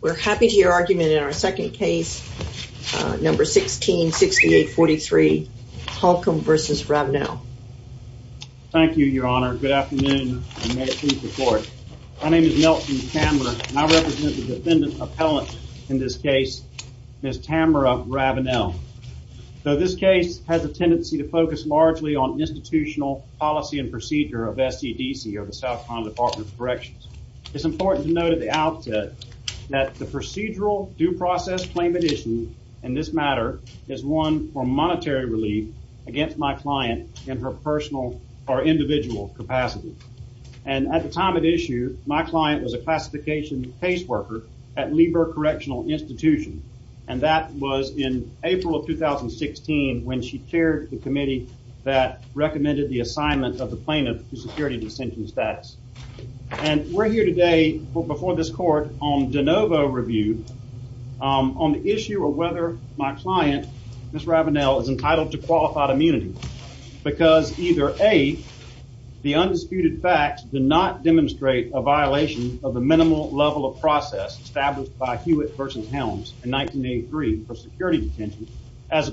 We're happy to hear your argument in our second case, number 166843, Halcomb v. Ravenell. Thank you, Your Honor. Good afternoon, and may it please the Court. My name is Nelson Tamarra, and I represent the defendant appellant in this case, Ms. Tamarra Ravenell. This case has a tendency to focus largely on institutional policy and procedure of SEDC, or the South Dakota Outfit, that the procedural due process claim at issue in this matter is one for monetary relief against my client in her personal or individual capacity. And at the time of issue, my client was a classification caseworker at Lieber Correctional Institution, and that was in April of 2016 when she chaired the committee that recommended the assignment of the plaintiff to security detention status. And we're here today before this Court on de novo review on the issue of whether my client, Ms. Ravenell, is entitled to qualified immunity because either A, the undisputed facts do not demonstrate a violation of the minimal level of process established by Hewitt v. Helms in 1983 for security detention, as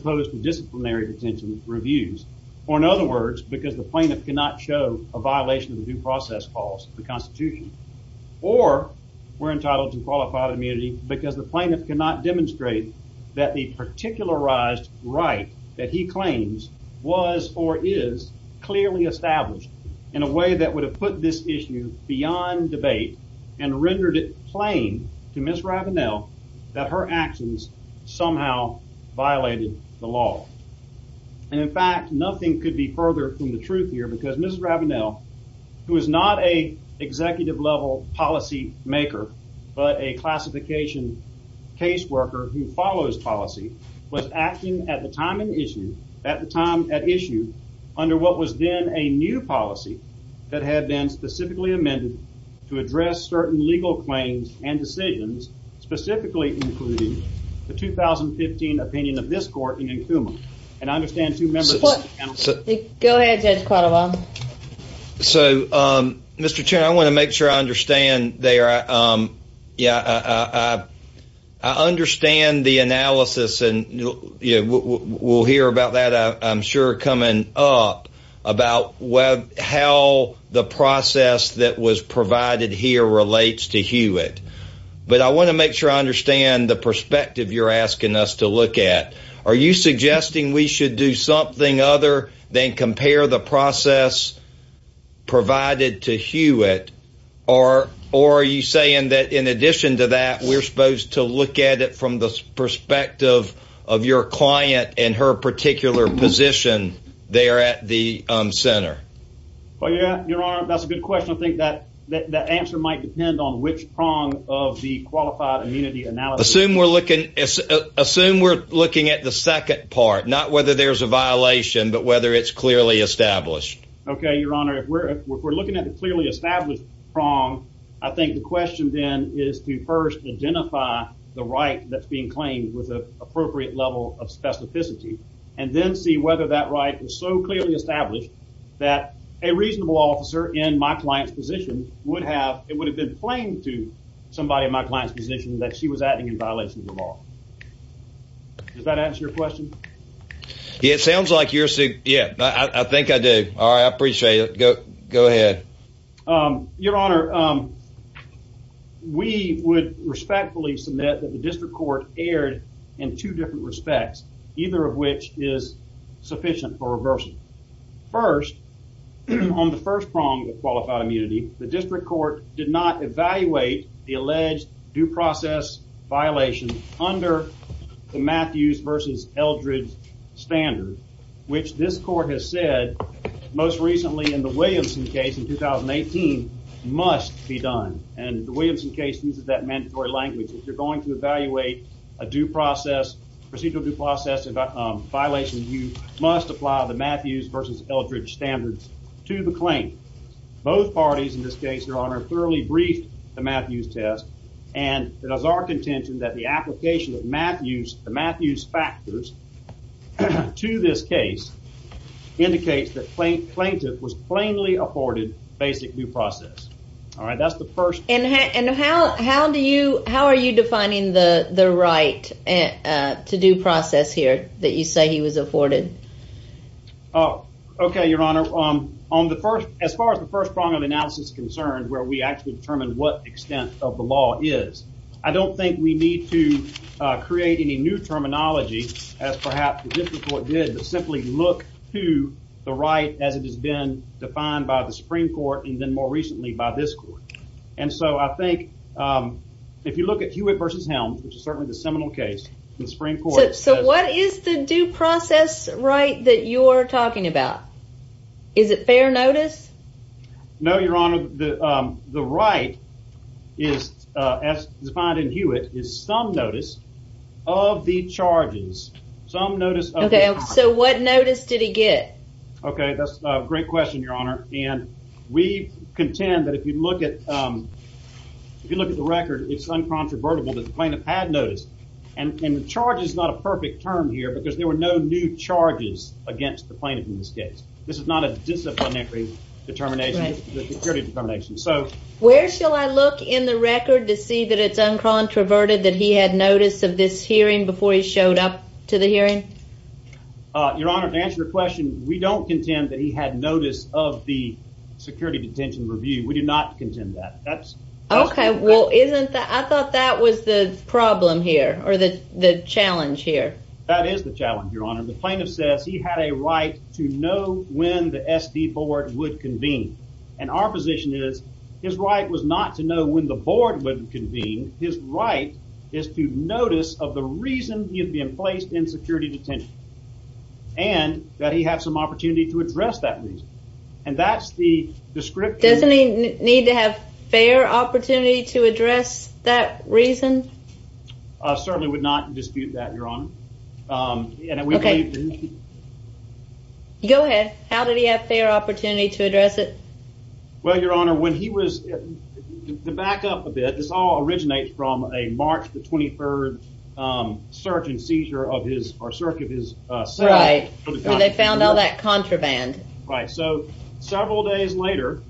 cannot show a violation of the due process clause of the Constitution, or we're entitled to qualified immunity because the plaintiff cannot demonstrate that the particularized right that he claims was or is clearly established in a way that would have put this issue beyond debate and rendered it plain to Ms. Ravenell that her actions somehow violated the law. And in fact, nothing could be further from the truth here because Ms. Ravenell, who is not an executive-level policymaker but a classification caseworker who follows policy, was acting at the time at issue under what was then a new policy that had been specifically amended to address certain legal claims and decisions, specifically including the 2015 opinion of this Court in Nkumah. And I understand two members of the panel. Go ahead, Judge Quattlebaum. So, Mr. Chair, I want to make sure I understand there. Yeah, I understand the analysis and we'll hear about that, I'm sure, coming up about how the process that was provided here relates to Hewitt. But I want to make sure I understand the perspective you're asking us to look at. Are you suggesting we should do something other than compare the process provided to Hewitt? Or are you saying that in addition to that, we're supposed to look at it from the perspective of your client and her particular position there at the center? Well, yeah, Your Honor, that's a good question. I think that the answer might depend on which prong of the qualified immunity analysis. Assume we're looking at the second part, not whether there's a violation, but whether it's clearly established. Okay, Your Honor. If we're looking at the clearly established prong, I think the question then is to first identify the right that's being claimed with an appropriate level of specificity and then see whether that right is so clearly established that a reasonable officer in my client's position would have, it would have been claimed to somebody in my client's position that she was acting in violation of the law. Does that answer your question? Yeah, it sounds like you're, yeah, I think I do. All right, I appreciate it. Go ahead. Your Honor, we would respectfully submit that the district court erred in two different respects, either of which is sufficient for reversal. First, on the first prong of qualified immunity, the district court did not evaluate the alleged due process violation under the Matthews versus Eldredge standard, which this court has said most recently in the Williamson case in 2018 must be done, and the Williamson case uses that mandatory language. If you're going to evaluate a due process, procedural due process violation, you must apply the Matthews versus Eldredge standards to the claim. Both parties in this case, Your Honor, thoroughly briefed the Matthews test, and it is our contention that the application of Matthews, the Matthews factors to this case indicates that plaintiff was plainly afforded basic due process. All right, that's the first. And how do you, how are you defining the right to due process here that you say he was afforded? Oh, okay, Your Honor. On the first, as far as the first prong of analysis concerns, where we actually determine what extent of the law is, I don't think we need to create any new terminology as perhaps the district court did, but simply look to the right as it has been defined by the district court. So I think if you look at Hewitt versus Helms, which is certainly the seminal case, the Supreme Court. So what is the due process right that you're talking about? Is it fair notice? No, Your Honor, the right is, as defined in Hewitt, is some notice of the charges. Some notice. Okay, so what notice did he get? Okay, that's a great question, Your Honor, and we if you look at the record, it's uncontrovertible that the plaintiff had noticed, and the charge is not a perfect term here because there were no new charges against the plaintiff in this case. This is not a disciplinary determination, the security determination. So where shall I look in the record to see that it's uncontroverted that he had notice of this hearing before he showed up to the hearing? Your Honor, to answer your question, we don't contend that he had notice of the security detention review. We do not contend that. Okay, well isn't that, I thought that was the problem here or the the challenge here. That is the challenge, Your Honor. The plaintiff says he had a right to know when the SD board would convene, and our position is his right was not to know when the board would convene. His right is to notice of the reason he is being placed in security detention, and that he have some opportunity to address that reason, and that's the description. Doesn't he need to have fair opportunity to address that reason? I certainly would not dispute that, Your Honor. Okay, go ahead. How did he have fair opportunity to address it? Well, Your Honor, when he was, to back up a bit, this all originates from March the 23rd search and seizure of his, or search of his cell. Right, when they found all that contraband. Right, so several days later,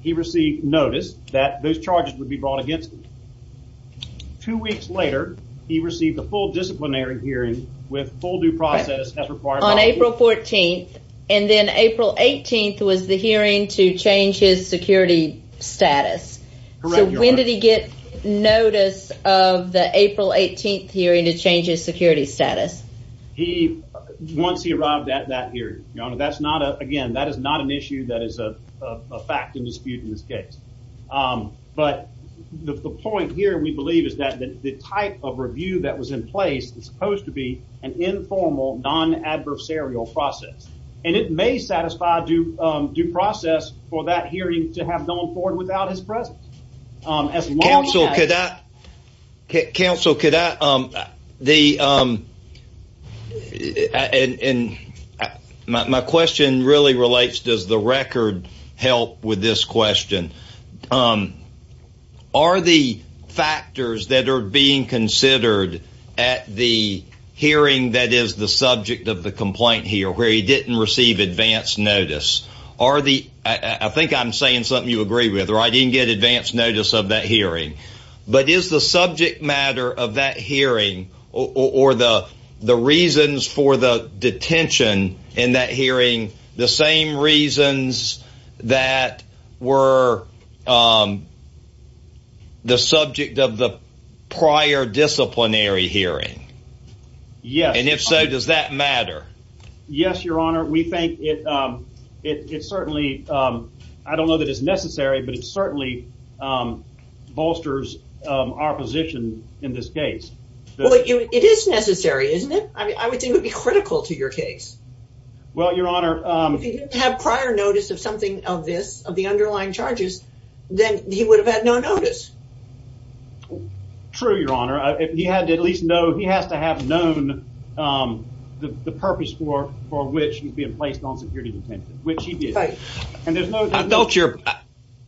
he received notice that those charges would be brought against him. Two weeks later, he received a full disciplinary hearing with full due process as required. On April 14th, and then April 18th was the hearing to change his security status, so when did he get notice of the April 18th hearing to change his security status? He, once he arrived at that hearing, Your Honor, that's not a, again, that is not an issue that is a fact and dispute in this case, but the point here, we believe, is that the type of review that was in place is supposed to be an informal non-adversarial process, and it may satisfy due process for that hearing to have gone forward without his presence. Counsel, could I, Counsel, could I, the, and my question really relates, does the record help with this question? Are the factors that are being considered at the hearing that is the subject of the complaint here, where he didn't receive advance notice, are the, I think I'm saying something you agree with, or I didn't get advance notice of that hearing, but is the subject matter of that hearing or the reasons for the detention in that hearing the same reasons that were the subject of the prior disciplinary hearing? Yes. And if so, does that matter? Yes, Your Honor, we think it, it certainly, I don't know that it's necessary, but it certainly bolsters our position in this case. Well, it is necessary, isn't it? I mean, I would think it would be critical to your case. Well, Your Honor, if he didn't have prior notice of something of this, of the underlying charges, then he would have had no notice. True, Your Honor. He had to at least know, he has to have known the purpose for which he's being placed on security detention, which he did. And there's no doubt.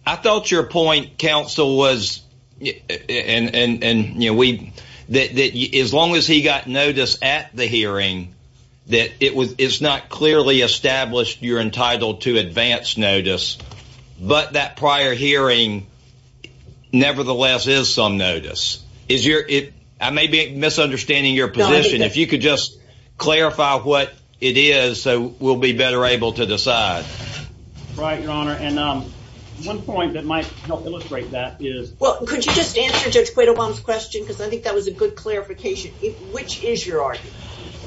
I thought your point, Counsel, was, and, you know, we, that as long as he got notice at the hearing, that it was, it's not clearly established you're entitled to advance notice, but that prior hearing nevertheless is some notice. Is your, it, I may be misunderstanding your position. If you could just clarify what it is, so we'll be better able to decide. Right, Your Honor. And one point that might help illustrate that is. Well, could you just answer Judge Quaid Obama's question? Because I think that was a good clarification. Which is your argument?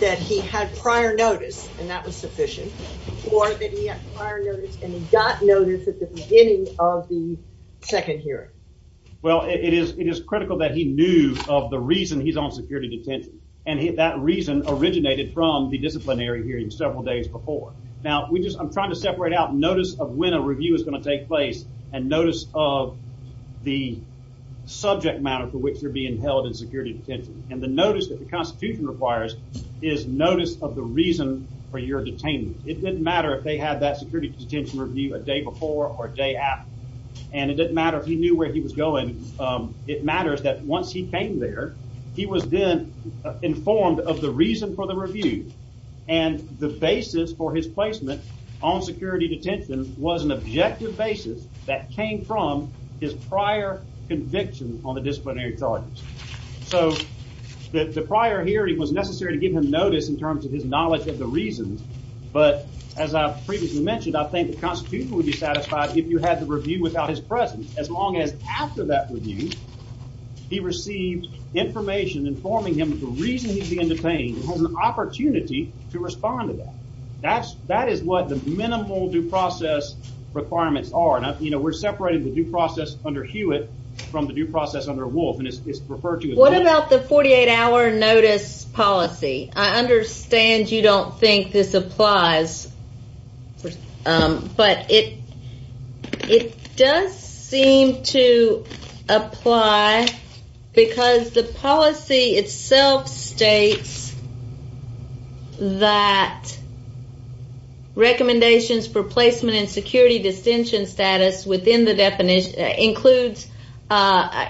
That he had prior notice and that second hearing. Well, it is, it is critical that he knew of the reason he's on security detention. And that reason originated from the disciplinary hearing several days before. Now, we just, I'm trying to separate out notice of when a review is going to take place and notice of the subject matter for which you're being held in security detention. And the notice that the Constitution requires is notice of the reason for your detainment. It didn't matter if they had that detention review a day before or a day after. And it didn't matter if he knew where he was going. It matters that once he came there, he was then informed of the reason for the review. And the basis for his placement on security detention was an objective basis that came from his prior conviction on the disciplinary charges. So the prior hearing was necessary to give him notice in terms of his knowledge of the reasons. But as I previously mentioned, I think the Constitution would be satisfied if you had the review without his presence, as long as after that review, he received information informing him of the reason he's being detained and has an opportunity to respond to that. That is what the minimal due process requirements are. And, you know, we're separating the due process under Hewitt from the due process under Wolf. What about the 48-hour notice policy? I understand you don't think this applies, but it does seem to apply because the policy itself states that recommendations for placement and security detention status within the definition includes,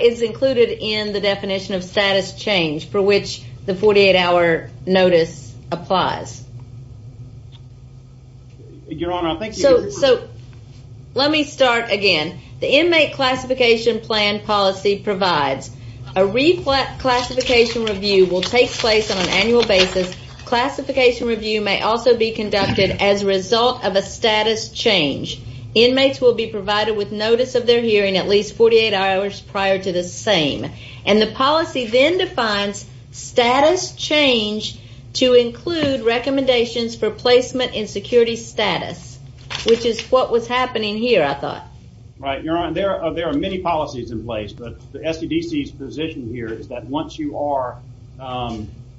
is included in the definition of status change for which the 48-hour notice applies. Your Honor, I think... So let me start again. The inmate classification plan policy provides a re-classification review will take place on an annual basis. Classification review may also be conducted as a result of a status change. Inmates will be provided with notice of their hearing at least 48 hours prior to the same. And the policy then defines status change to include recommendations for placement and security status, which is what was happening here, I thought. Right. Your Honor, there are many policies in place, but the STDC's position here is that once you are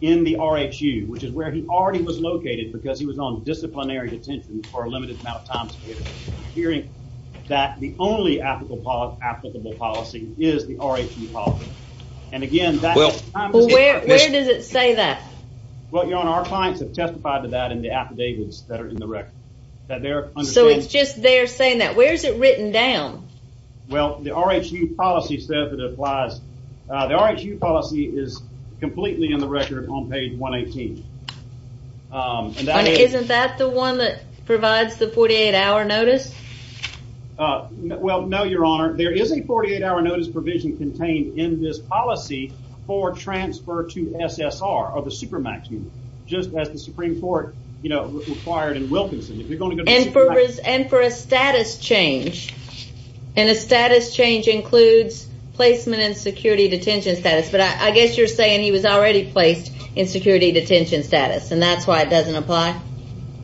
in the RSU, which is where he already was located because he was on disciplinary detention for a limited amount of time period, hearing that the only applicable policy is the RSU policy. And again... Well, where does it say that? Well, Your Honor, our clients have testified to that in the affidavits that are in the record. So it's just there saying that. Where is it written down? Well, the RSU policy says it applies. The RSU policy is completely in the record on page 118. And isn't that the one that provides the 48-hour notice? Well, no, Your Honor. There is a 48-hour notice provision contained in this policy for transfer to SSR or the Supermax Union, just as the Supreme Court required in Wilkinson. And for a status change. And a status change includes placement and security detention status. I guess you're saying he was already placed in security detention status, and that's why it doesn't apply?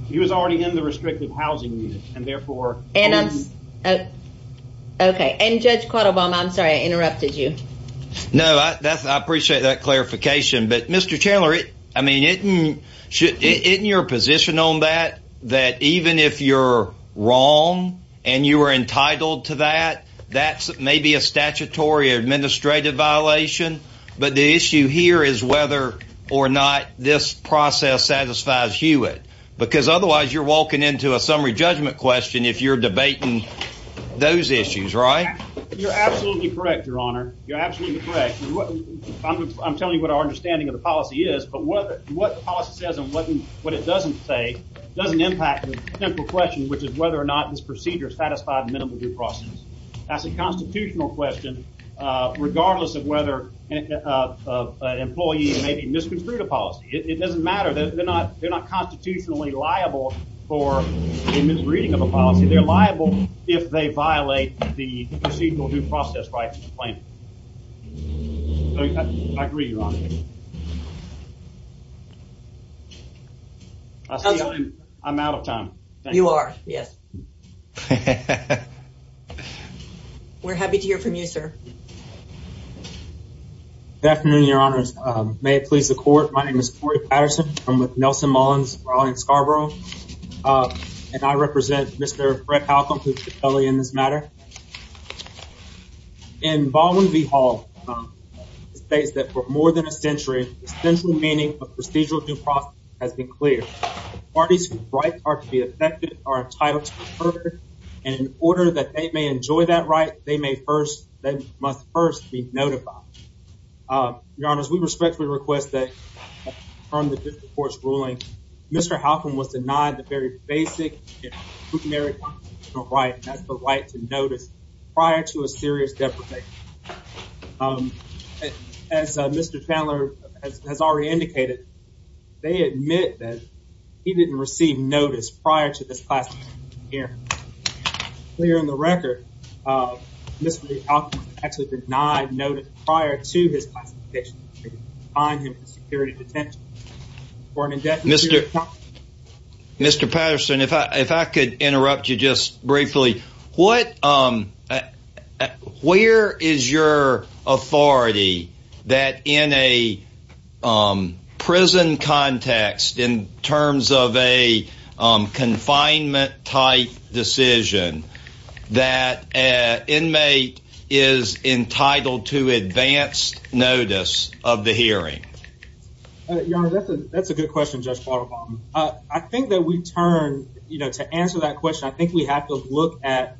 He was already in the restrictive housing unit, and therefore... Okay. And Judge Quattlebaum, I'm sorry I interrupted you. No, I appreciate that clarification. But Mr. Chandler, I mean, isn't your position on that, that even if you're wrong and you are entitled to that, that's maybe a statutory or administrative violation? But the issue here is whether or not this process satisfies Hewitt. Because otherwise, you're walking into a summary judgment question if you're debating those issues, right? You're absolutely correct, Your Honor. You're absolutely correct. I'm telling you what our understanding of the policy is, but what the policy says and what it doesn't say doesn't impact the simple question, which is whether or not this procedure satisfied minimum due process. That's a constitutional question, regardless of whether an employee maybe misconstrued a policy. It doesn't matter. They're not constitutionally liable for a misreading of a policy. They're liable if they violate the procedural due process right to complain. I agree, Your Honor. I'm out of time. You are, yes. We're happy to hear from you, sir. Good afternoon, Your Honor. May it please the Court, my name is Corey Patterson. I'm with Nelson Mullins, Raleigh & Scarborough, and I represent Mr. Fred Halcombe, who took the felony in this matter. In Baldwin v. Hall, it states that for more than a century, the central meaning of procedural due process has been clear. Parties whose rights are to be affected are they must first be notified. Your Honor, we respectfully request that, from the District Court's ruling, Mr. Halcombe was denied the very basic right, that's the right to notice, prior to a serious deprivation. As Mr. Chandler has already indicated, they admit that he didn't receive notice prior to this classification hearing. It's clear on the record, Mr. Halcombe was actually denied notice prior to his classification hearing, behind him for security detention. Mr. Patterson, if I could interrupt you just briefly. Where is your authority that in a confinement-type decision, that an inmate is entitled to advanced notice of the hearing? Your Honor, that's a good question, Judge Bartlebaum. I think that we turn, you know, to answer that question, I think we have to look at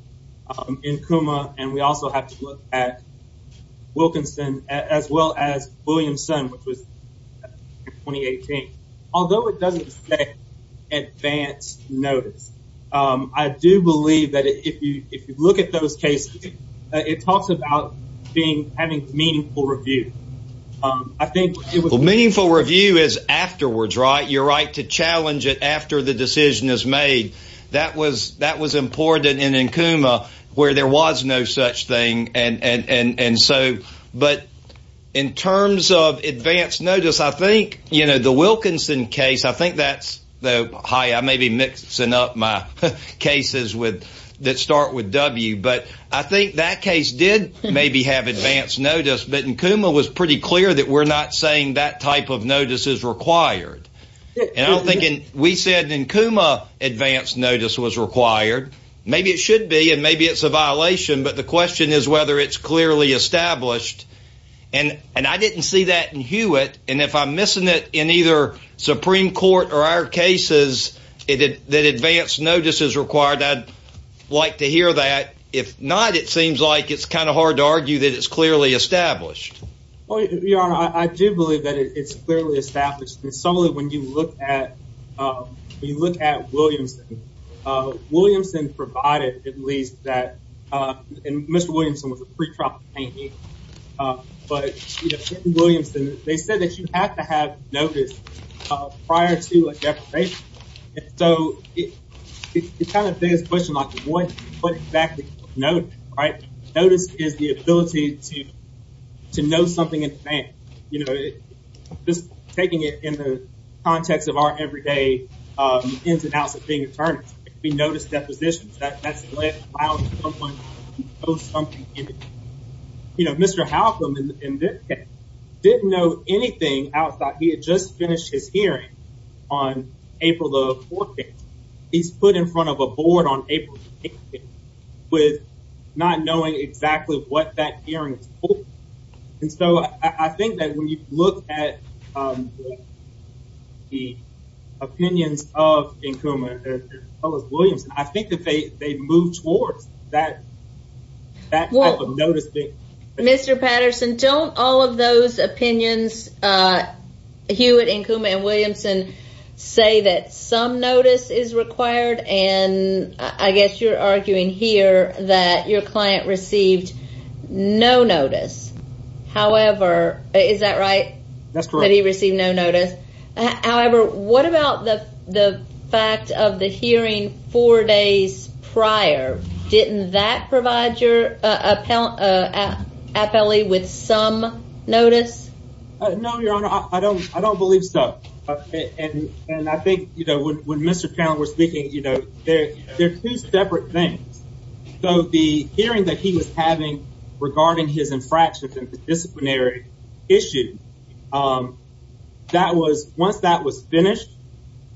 Nkuma, and we also have to look at notice. I do believe that if you look at those cases, it talks about having meaningful review. Meaningful review is afterwards, right? You're right to challenge it after the decision is made. That was important in Nkuma, where there was no such thing. But in terms of advanced notice, I think, you know, the Wilkinson case, I think that's, hi, I may be mixing up my cases with, that start with W, but I think that case did maybe have advanced notice, but Nkuma was pretty clear that we're not saying that type of notice is required. And I'm thinking, we said Nkuma advanced notice was required. Maybe it should be, and maybe it's a violation, but the question is whether it's clearly established. And I didn't see that in Hewitt, and if I'm missing it in either Supreme Court or our cases, that advanced notice is required, I'd like to hear that. If not, it seems like it's kind of hard to argue that it's clearly established. Your Honor, I do believe that it's clearly established. And certainly when you look at Williamson, Williamson provided at least that, and Mr. Williamson was a pretrial plaintiff, but Williamson, they said that you have to have notice prior to a deposition. And so it's kind of a biggest question, like what exactly is notice, right? Notice is the ability to know something in advance, you know, just taking it in the context of our everyday ins and outs of being attorneys. We notice depositions, that's to know something in advance. You know, Mr. Halcombe in this case didn't know anything outside. He had just finished his hearing on April the 14th. He's put in front of a board on April with not knowing exactly what that hearing is for. And so I think that when you look at the opinions of Nkuma and Williamson, I think that they moved towards that type of notice. Mr. Patterson, don't all of those opinions, Hewitt, Nkuma and Williamson say that some notice is required? And I guess you're arguing here that your client received no notice. However, is that right? That's correct. He received no notice. However, what about the fact of the hearing four days prior? Didn't that provide your appellee with some notice? No, Your Honor, I don't, I don't believe so. And I think, you know, when Mr. Towne was speaking, you know, there are two separate things. So the hearing that he was having regarding his infractions and disciplinary issue. That was once that was finished,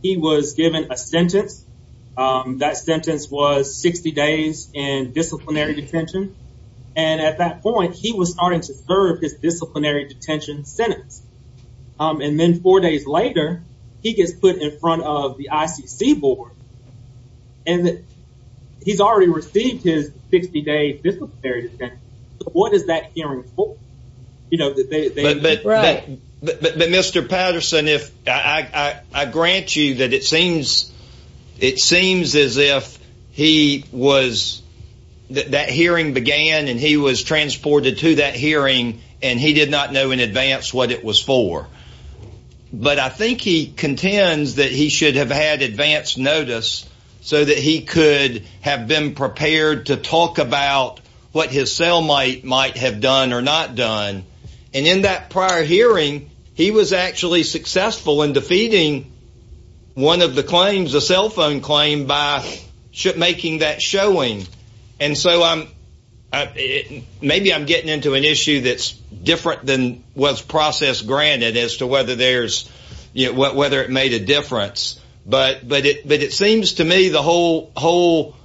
he was given a sentence. That sentence was 60 days in disciplinary detention. And at that point, he was starting to serve his disciplinary detention sentence. And then four days later, he gets put in front of the ICC board. And he's already received his 60 days disciplinary detention. What is that hearing for? You know, that they right. But Mr. Patterson, if I grant you that it seems, it seems as if he was that hearing began, and he was transported to that hearing, and he did not know in advance what it was for. But I think he contends that he should have had advanced notice so that he could have been prepared to talk about what his cell might might have done or not done. And in that prior hearing, he was actually successful in defeating one of the claims, a cell phone claim by making that showing. And so I'm, maybe I'm getting into an issue that's different than was processed granted as to whether there's, you know, what whether it made a difference. But but it but it seems to me the whole whole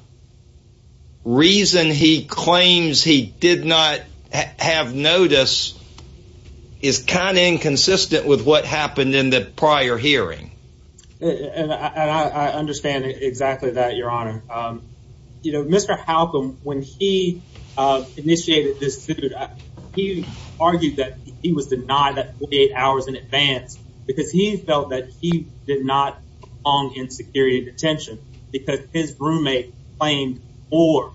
reason he claims he did not have notice is kind of inconsistent with what happened in the prior hearing. And I understand exactly that, Your Honor. You know, Mr. Halcombe, when he initiated this suit, he argued that he was denied that 48 hours in advance, because he felt that he did not belong in security detention, because his roommate claimed for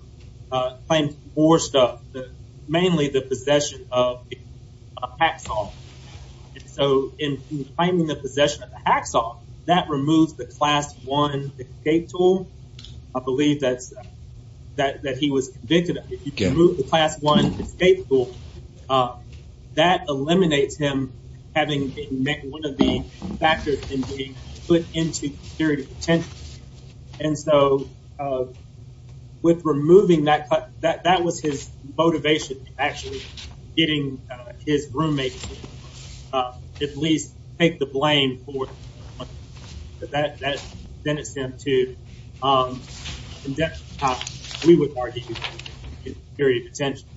claimed for stuff, mainly the possession of hacksaw. So in claiming the possession of the hacksaw, that removes the class one escape tool. I believe that's that he was convicted of the class one escape tool. That eliminates him having met one of the factors in being put into security detention. And so with removing that, that that was his motivation, actually, getting his roommate, uh, at least take the blame for that, that then it's him to we would argue, very potential.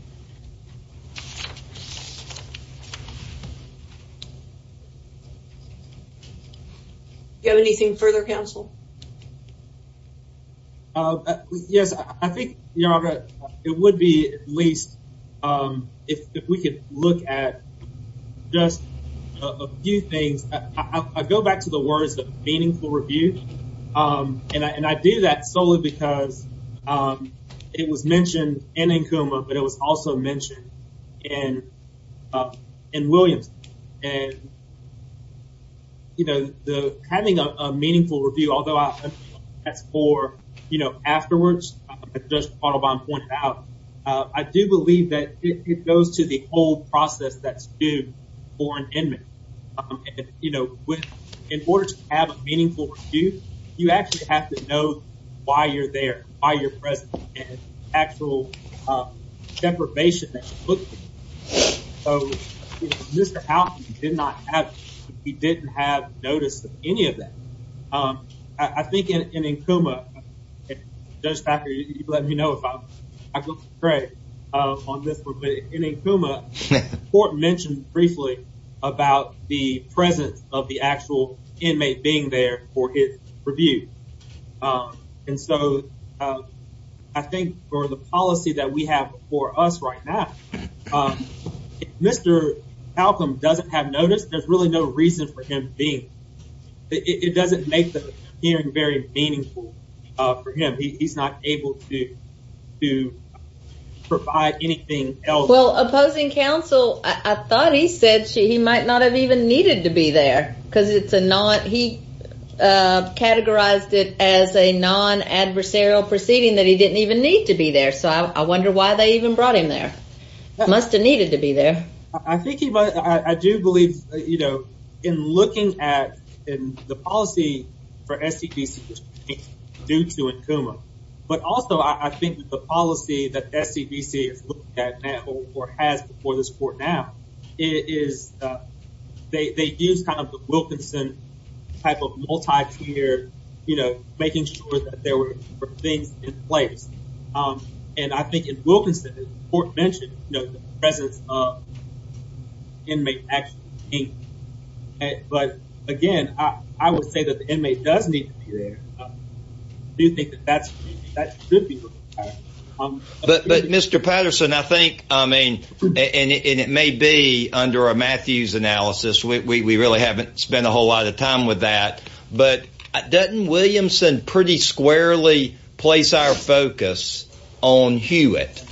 Do you have anything further counsel? Uh, yes, I think, Your Honor, it would be at least if we could look at just a few things. I go back to the words of meaningful review. And I do that solely because it was mentioned in Nkuma, but it was also mentioned in in Williams. And, you know, the having a meaningful review, although that's for, you know, afterwards, just follow on point out, I do believe that it goes to the whole process that's due for an inmate. You know, in order to have a meaningful review, you actually have to know why you're there, why you're present actual deprivation. Mr. Alton did not have, he didn't have notice of any of that. I think in Nkuma, just after you let me know if I go straight on this, but in Nkuma, court mentioned briefly about the presence of the actual inmate being there for his review. And so I think for the policy that we have for us right now, Mr. Alton doesn't have notice. There's really no reason for him being. It doesn't make the hearing very meaningful for him. He's not able to provide anything else. Well, opposing counsel, I thought he said he might not have even needed to be there because it's a non, he categorized it as a non-adversarial proceeding that he didn't even need to be there. So I wonder why they even brought him there. That must've needed to be there. I think he, I do believe, you know, in looking at the policy for SCVC, due to Nkuma, but also I think the policy that SCVC is looking at now or has before this court now is they use kind of the Wilkinson type of multi-tier, you know, making sure that there were things in place. And I think in Wilkinson, the court mentioned, you know, the presence of inmate actually being there. But again, I would say that the inmate does need to be there. I do think that that's, that should be looked at. But, but Mr. Patterson, I think, I mean, and it may be under a Matthews analysis, we really haven't spent a whole lot of time with that, but doesn't Williamson pretty squarely place our focus on Hewitt?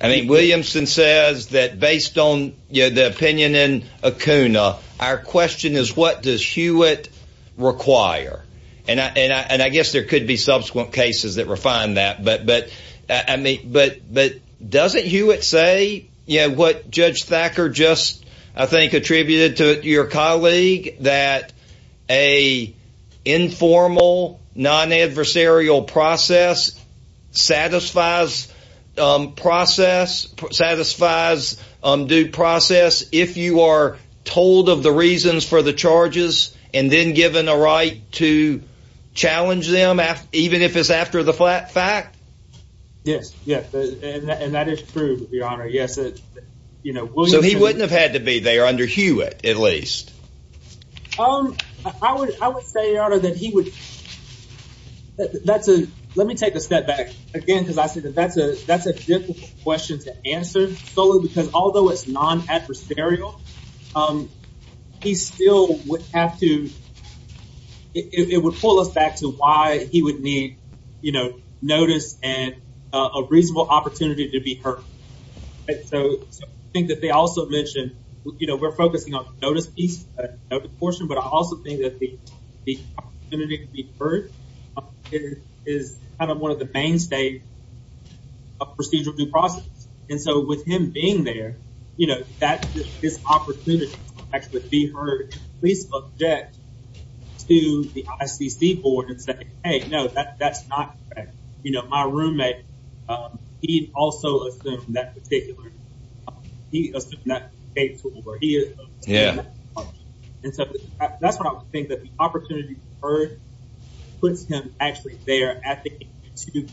I mean, Williamson says that based on the opinion in Akuna, our question is what does Hewitt require? And I, and I, and I guess there could be subsequent cases that refine that, but, but I mean, but, but doesn't Hewitt say, you know, what Judge Thacker just, I think, attributed to your colleague that a informal, non-adversarial process satisfies process, satisfies due process, if you are told of the reasons for the charges and then given a right to challenge them, even if it's after the fact? Yes. Yeah. And that is true, Your Honor. Yes. You know, so he wouldn't have had to be there under Hewitt, at least. Um, I would, I would say, Your Honor, that he would, that's a, let me take a step back again, because I see that that's a, that's a difficult question to answer solely because although it's non-adversarial, he still would have to, it would pull us back to why he would need, you know, notice and a reasonable opportunity to be heard. And so, so I think that they also mentioned, you know, we're focusing on the notice piece portion, but I also think that the, the opportunity to be heard is kind of one of the mainstays of procedural due process. And so with him being there, you know, that this opportunity to actually be heard, please object to the ICC board and say, Hey, no, that, that's not, you know, my roommate, he also assumed that particular, he assumed that. Yeah. And so that's what I would think, that the opportunity to be heard puts him actually there at the age of two.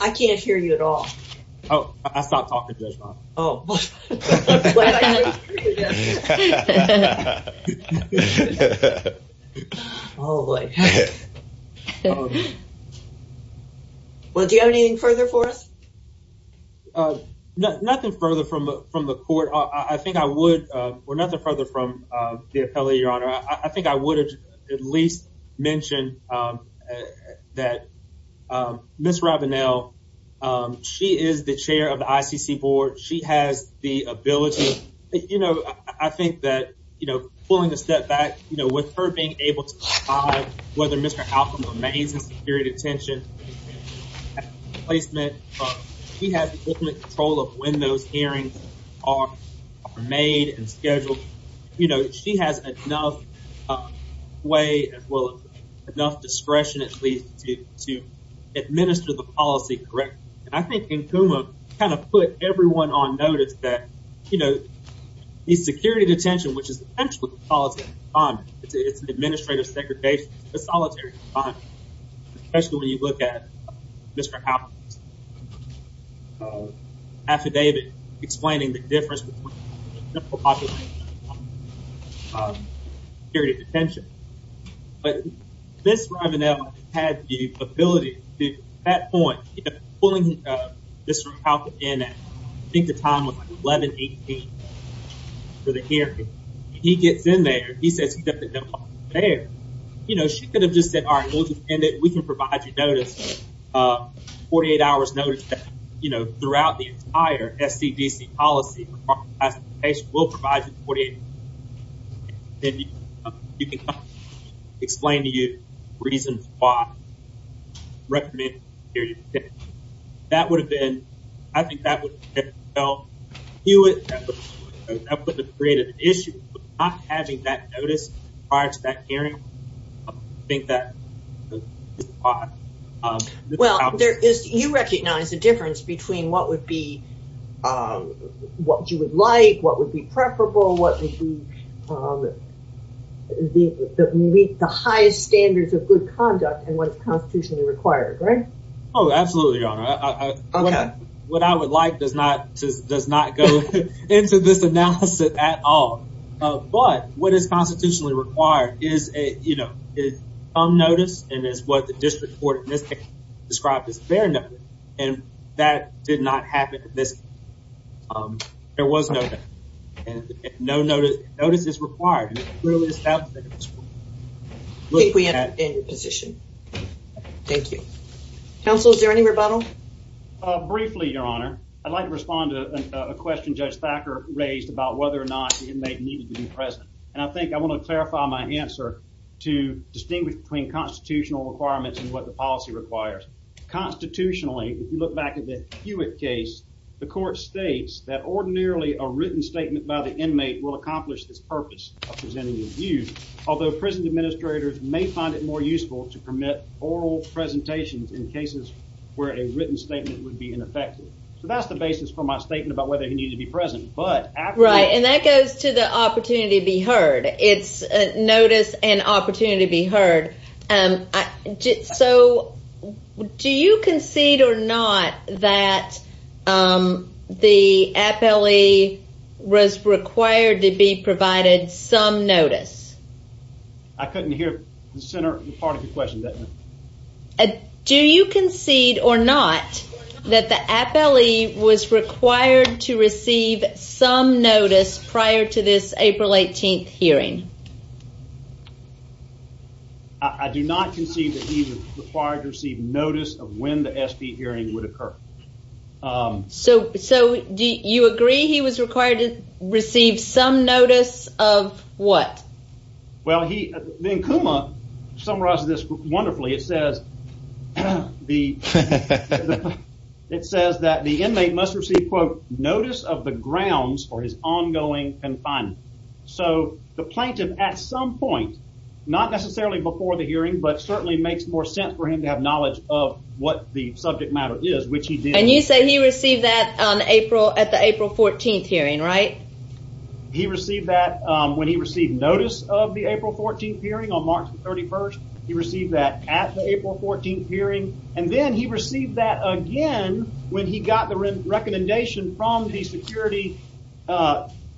I can't hear you at all. Oh, I stopped talking. Well, do you have anything further for us? Nothing further from, from the court. I think I would, or nothing further from the appellate, your honor. I think I would at least mention that Ms. Rabanel, she is the chair of the ICC board. She has the ability, you know, I think that, you know, pulling the step back, you know, with her being able to decide whether Mr. Alcom remains in security detention, placement, she has ultimate control of when those hearings are made and scheduled. You know, she has enough way as well as enough discretion, at least to administer the policy correctly. And I think Nkuma kind of put everyone on notice that, you know, the security detention, which is essentially a solitary confinement, it's an administrative segregation, it's a solitary confinement, especially when you look at Mr. Alcom's affidavit explaining the difference between the general population and security detention. But Ms. Rabanel had the ability to, at that point, you know, pulling Mr. Alcom in, I think the time was like 11-18 for the hearing. He gets in there, he says he's got the general population there, you know, she could have just said, all right, we'll just end it, we can provide you notice, 48 hours notice that, you know, throughout the entire SCDC policy, we'll provide you 48 hours notice. Then you can explain to you reasons why recommended security detention. That would have been, I think that would have helped, you would, that would have created an issue, not having that notice prior to that hearing. Well, there is, you recognize the difference between what would be, what you would like, what would be preferable, what would be the highest standards of good conduct and what is constitutionally required, right? Oh, absolutely, Your Honor. What I would like does not go into this analysis at all. But what is constitutionally required is, you know, is some notice and is what the district court in this case described as fair notice. And that did not happen in this case. There was no and no notice, notice is required. I think we understand your position. Thank you. Counsel, is there any rebuttal? Briefly, Your Honor, I'd like to respond to a question Judge Thacker raised about whether or not the inmate needed to be present. And I think I want to clarify my answer to distinguish between constitutional requirements and what the policy requires. Constitutionally, if you look back at the Hewitt case, the court states that ordinarily a written statement by the inmate will accomplish this purpose of presenting his views. Although prison administrators may find it more useful to permit oral presentations in cases where a written statement would be ineffective. So that's the basis for my statement about whether he needed to be present. Right, and that goes to the opportunity to be heard. It's notice and opportunity to be heard. So do you concede or not that the appellee was required to be provided some notice? I couldn't hear the center part of the question. Do you concede or not that the appellee was required to receive some notice prior to this April 18th hearing? I do not concede that he was required to receive notice of when the S.P. hearing would occur. So do you agree he was required to receive some notice of what? Well he, then Kuma summarizes this wonderfully. It says that the inmate must receive quote notice of the grounds for his ongoing confinement. So the plaintiff at some point, not necessarily before the hearing, but certainly makes more sense for him to have knowledge of what the subject matter is, which he did. And you say he received that on April at the April 14th hearing, right? He received that when he received notice of the April 14th hearing on March 31st. He received that at the April 14th hearing and then he received that again when he got the recommendation from the security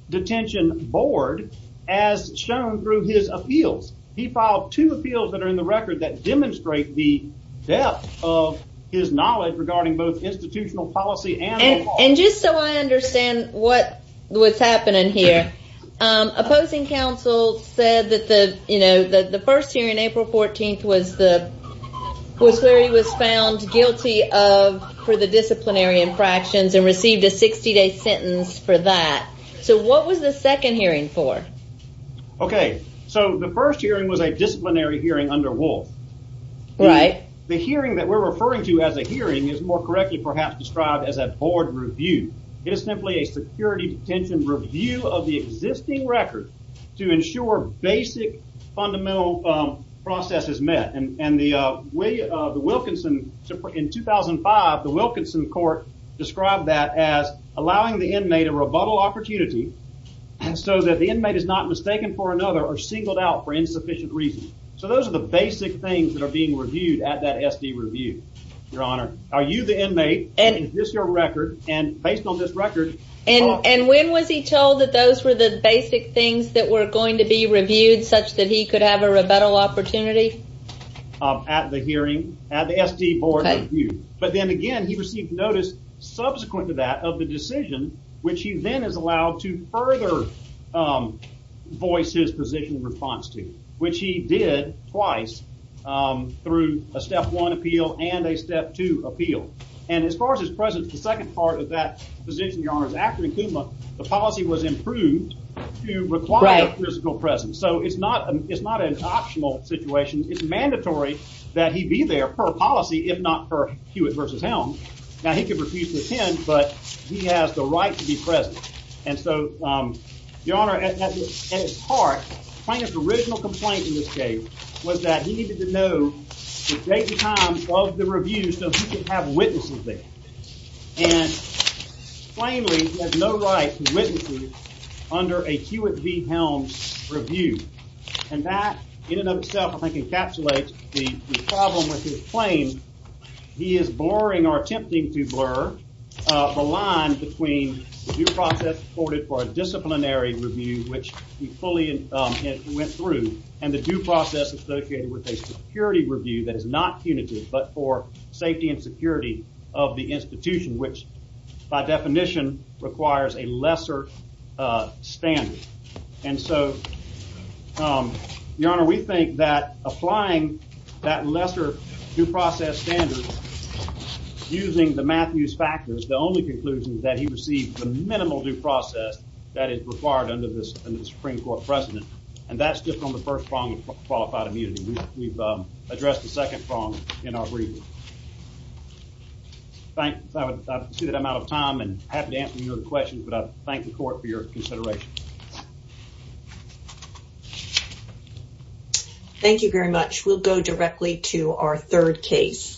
detention board as shown through his appeals. He filed two appeals that are in the record that demonstrate the depth of his knowledge regarding both institutional policy and law. And just so I understand what was happening here, opposing counsel said that the you know that the first hearing April 14th was the was where he was found guilty of for the sentence for that. So what was the second hearing for? Okay so the first hearing was a disciplinary hearing under Wolf. Right. The hearing that we're referring to as a hearing is more correctly perhaps described as a board review. It is simply a security detention review of the existing record to ensure basic fundamental process is met. And the way the Wilkinson in 2005 the Wilkinson court described that as allowing the inmate a rebuttal opportunity so that the inmate is not mistaken for another or singled out for insufficient reasons. So those are the basic things that are being reviewed at that SD review your honor. Are you the inmate and is this your record and based on this record. And when was he told that those were the basic things that were going to be reviewed such that he could have a rebuttal opportunity? At the hearing at the SD board review. But then again he received notice subsequent to that of the decision which he then is allowed to further voice his position in response to. Which he did twice through a step one appeal and a step two appeal. And as far as his presence the second part of that position your honors after the policy was improved to require physical presence. So it's not it's not an optional situation it's there per policy if not per Hewitt versus Helms. Now he could refuse to attend but he has the right to be present. And so your honor at its heart plaintiff's original complaint in this case was that he needed to know the date and time of the review so he could have witnesses there. And plainly he has no right to witnesses under a Hewitt v Helms review. And that in and of itself I think encapsulates the problem with his claim. He is blurring or attempting to blur the line between due process supported for a disciplinary review which he fully went through and the due process associated with a security review that is not punitive but for safety and security of the institution which by definition requires a lesser standard. And so your honor we think that applying that lesser due process standard using the Matthews factors the only conclusion is that he received the minimal due process that is required under this under the Supreme Court precedent and that's just on the first prong of qualified immunity. We've addressed the second prong in our briefing. Thank you. I see that I'm out of time and happy to answer your questions but I thank the court for your consideration. Thank you very much. We'll go directly to our third case.